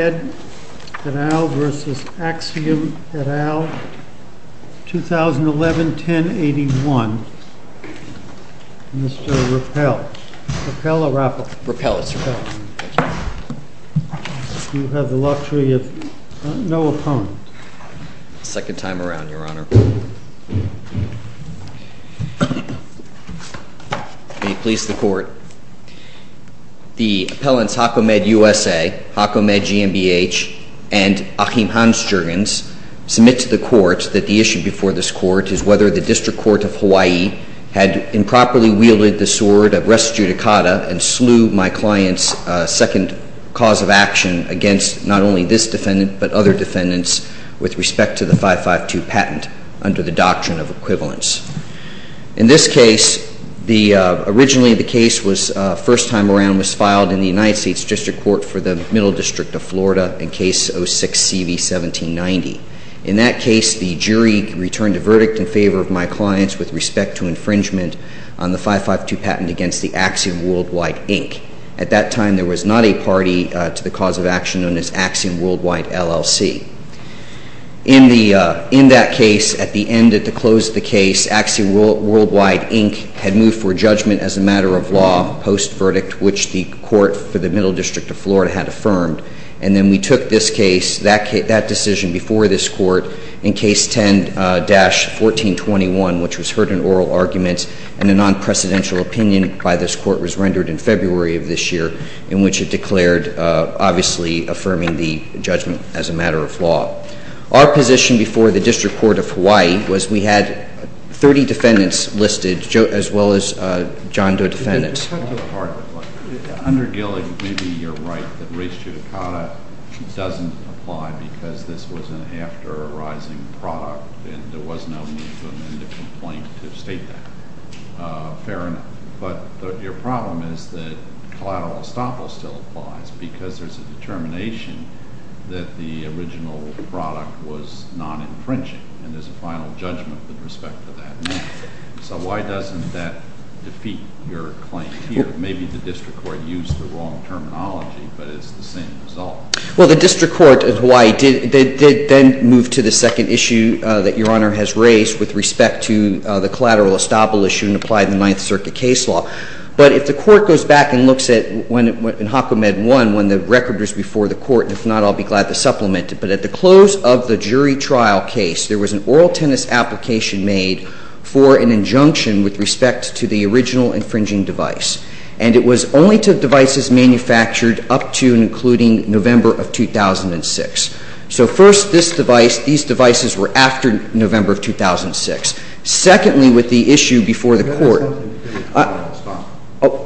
HAKO-MED, et al. v. AXIOM, et al. 2011-10-81, Mr. Rappel. Rappel or Appel? Rappel, it's Rappel. You have the luxury of no opponent. Second time around, Your Honor. May it please the Court. The appellants HAKO-MED USA, HAKO-MED GMBH, and Achim Hansjörgens submit to the Court that the issue before this Court is whether the District Court of Hawaii had improperly wielded the sword of res judicata and slew my client's second cause of action against not only this defendant but other defendants with respect to the 552 patent under the doctrine of equivalence. In this case, originally the case first time around was filed in the United States District Court for the Middle District of Florida in Case 06-CV-1790. In that case, the jury returned a verdict in favor of my client's with respect to infringement on the 552 patent against the Axiom Worldwide, Inc. At that time, there was not a party to the cause of action known as Axiom Worldwide, LLC. In that case, at the end, at the close of the case, Axiom Worldwide, Inc. had moved for judgment as a matter of law post-verdict, which the Court for the Middle District of Florida had affirmed. And then we took this case, that decision before this Court, in Case 10-1421, which was heard in oral arguments, and a non-precedential opinion by this Court was rendered in February of this year, in which it declared, obviously, affirming the judgment as a matter of law. Our position before the District Court of Hawaii was we had 30 defendants listed, as well as John Doe defendants. With respect to the part of the claim, under Gilligan, maybe you're right that res judicata doesn't apply because this was an after arising product and there was no movement to amend the complaint to state that. Fair enough. But your problem is that collateral estoppel still applies because there's a determination that the original product was non-infringing, and there's a final judgment with respect to that now. So why doesn't that defeat your claim here? Maybe the District Court used the wrong terminology, but it's the same result. Well, the District Court of Hawaii did then move to the second issue that Your Honor has raised with respect to the collateral estoppel issue and applied in the Ninth Circuit case law. But if the Court goes back and looks at when HACOMED won, when the record was before the Court, and if not, I'll be glad to supplement it. But at the close of the jury trial case, there was an oral tennis application made for an injunction with respect to the original infringing device. And it was only to devices manufactured up to and including November of 2006. So first, this device, these devices were after November of 2006. Secondly, with the issue before the Court.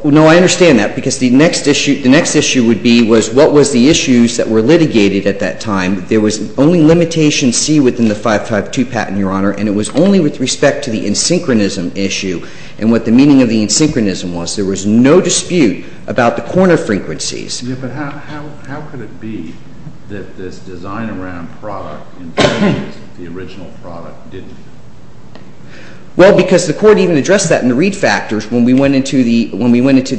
No, I understand that. Because the next issue would be was what was the issues that were litigated at that time. There was only limitation C within the 552 patent, Your Honor, and it was only with respect to the insynchronism issue and what the meaning of the insynchronism was. There was no dispute about the corner frequencies. Yeah, but how could it be that this design-around product infringes the original product didn't do? Well, because the Court even addressed that in the read factors when we went into the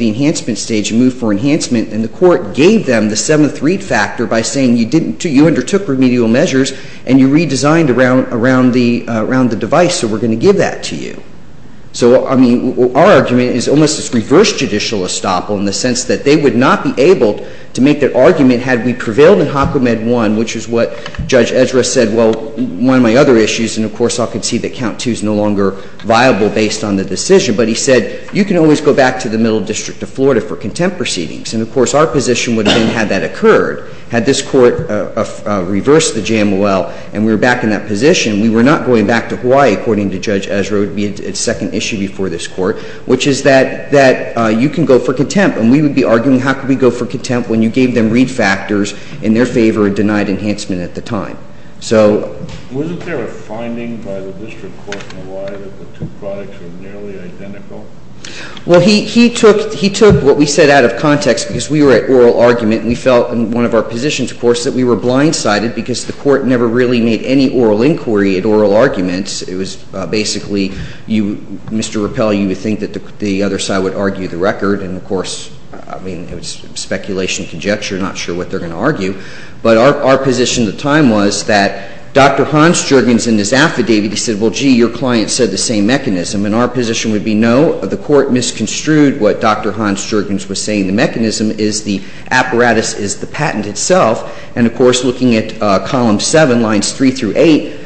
enhancement stage and moved for enhancement. And the Court gave them the seventh read factor by saying you undertook remedial measures and you redesigned around the device, so we're going to give that to you. So, I mean, our argument is almost this reverse judicial estoppel in the sense that they would not be able to make that argument had we prevailed in HACOMED 1, which is what Judge Ezra said, well, one of my other issues, and, of course, I'll concede that Count 2 is no longer viable based on the decision. But he said you can always go back to the Middle District of Florida for contempt proceedings. And, of course, our position would have been had that occurred, had this Court reversed the JMOL and we were back in that position, we were not going back to Hawaii, according to Judge Ezra, it would be a second issue before this Court, which is that you can go for contempt. And we would be arguing how could we go for contempt when you gave them read factors in their favor and denied enhancement at the time. So... Wasn't there a finding by the District Court in Hawaii that the two products are nearly identical? Well, he took what we said out of context because we were at oral argument and we felt in one of our positions, of course, that we were blindsided because the Court never really made any oral inquiry at oral arguments. It was basically you, Mr. Rappelle, you would think that the other side would argue the record. And, of course, I mean, it was speculation, conjecture, not sure what they're going to argue. But our position at the time was that Dr. Hans-Juergens in his affidavit, he said, well, gee, your client said the same mechanism. And our position would be no, the Court misconstrued what Dr. Hans-Juergens was saying. The mechanism is the apparatus is the patent itself. And, of course, looking at Column 7, Lines 3 through 8,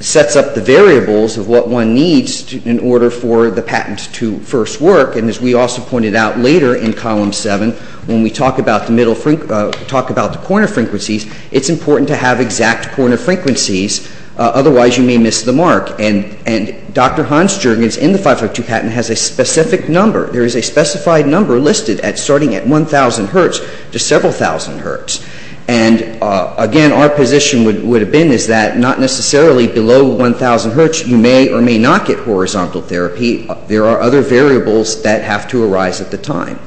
sets up the variables of what one needs in order for the patent to first work. And as we also pointed out later in Column 7, when we talk about the corner frequencies, it's important to have exact corner frequencies. Otherwise, you may miss the mark. And Dr. Hans-Juergens in the 552 patent has a specific number. There is a specified number listed at starting at 1,000 hertz to several thousand hertz. And, again, our position would have been is that not necessarily below 1,000 hertz you may or may not get horizontal therapy. There are other variables that have to arise at the time.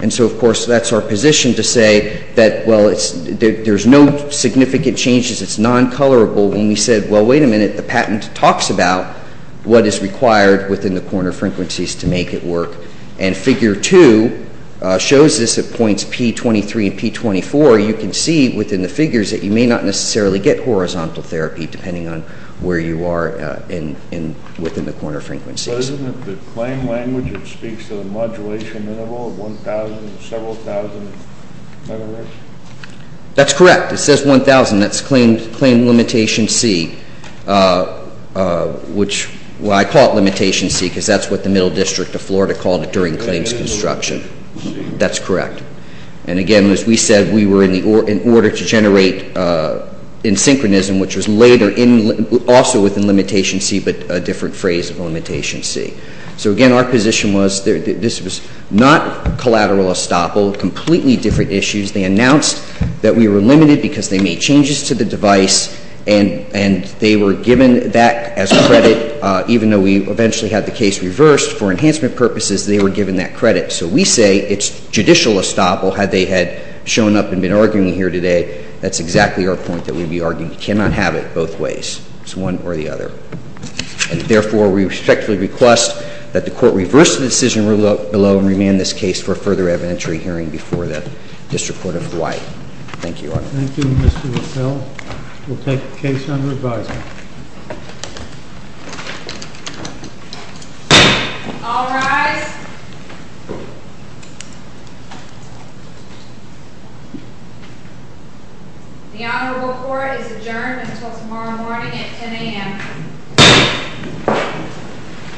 And so, of course, that's our position to say that, well, there's no significant changes. It's non-colorable. When we said, well, wait a minute, the patent talks about what is required within the corner frequencies to make it work. And Figure 2 shows this at points P23 and P24. You can see within the figures that you may not necessarily get horizontal therapy, depending on where you are within the corner frequencies. Mr. President, the claim language, it speaks to the modulation interval of 1,000 to several thousand mHz? That's correct. It says 1,000. That's claim limitation C, which, well, I call it limitation C because that's what the Middle District of Florida called it during claims construction. That's correct. And, again, as we said, we were in order to generate in synchronism, which was later also within limitation C, but a different phrase of limitation C. So, again, our position was this was not collateral estoppel, completely different issues. They announced that we were limited because they made changes to the device, and they were given that as credit, even though we eventually had the case reversed. For enhancement purposes, they were given that credit. So we say it's judicial estoppel, had they had shown up and been arguing here today. That's exactly our point that we'd be arguing. You cannot have it both ways. It's one or the other. And, therefore, we respectfully request that the Court reverse the decision below and remand this case for a further evidentiary hearing before the District Court of Hawaii. Thank you, Your Honor. Thank you, Mr. LaFleur. We'll take the case under advisory. All rise. The Honorable Court is adjourned until tomorrow morning at 10 a.m.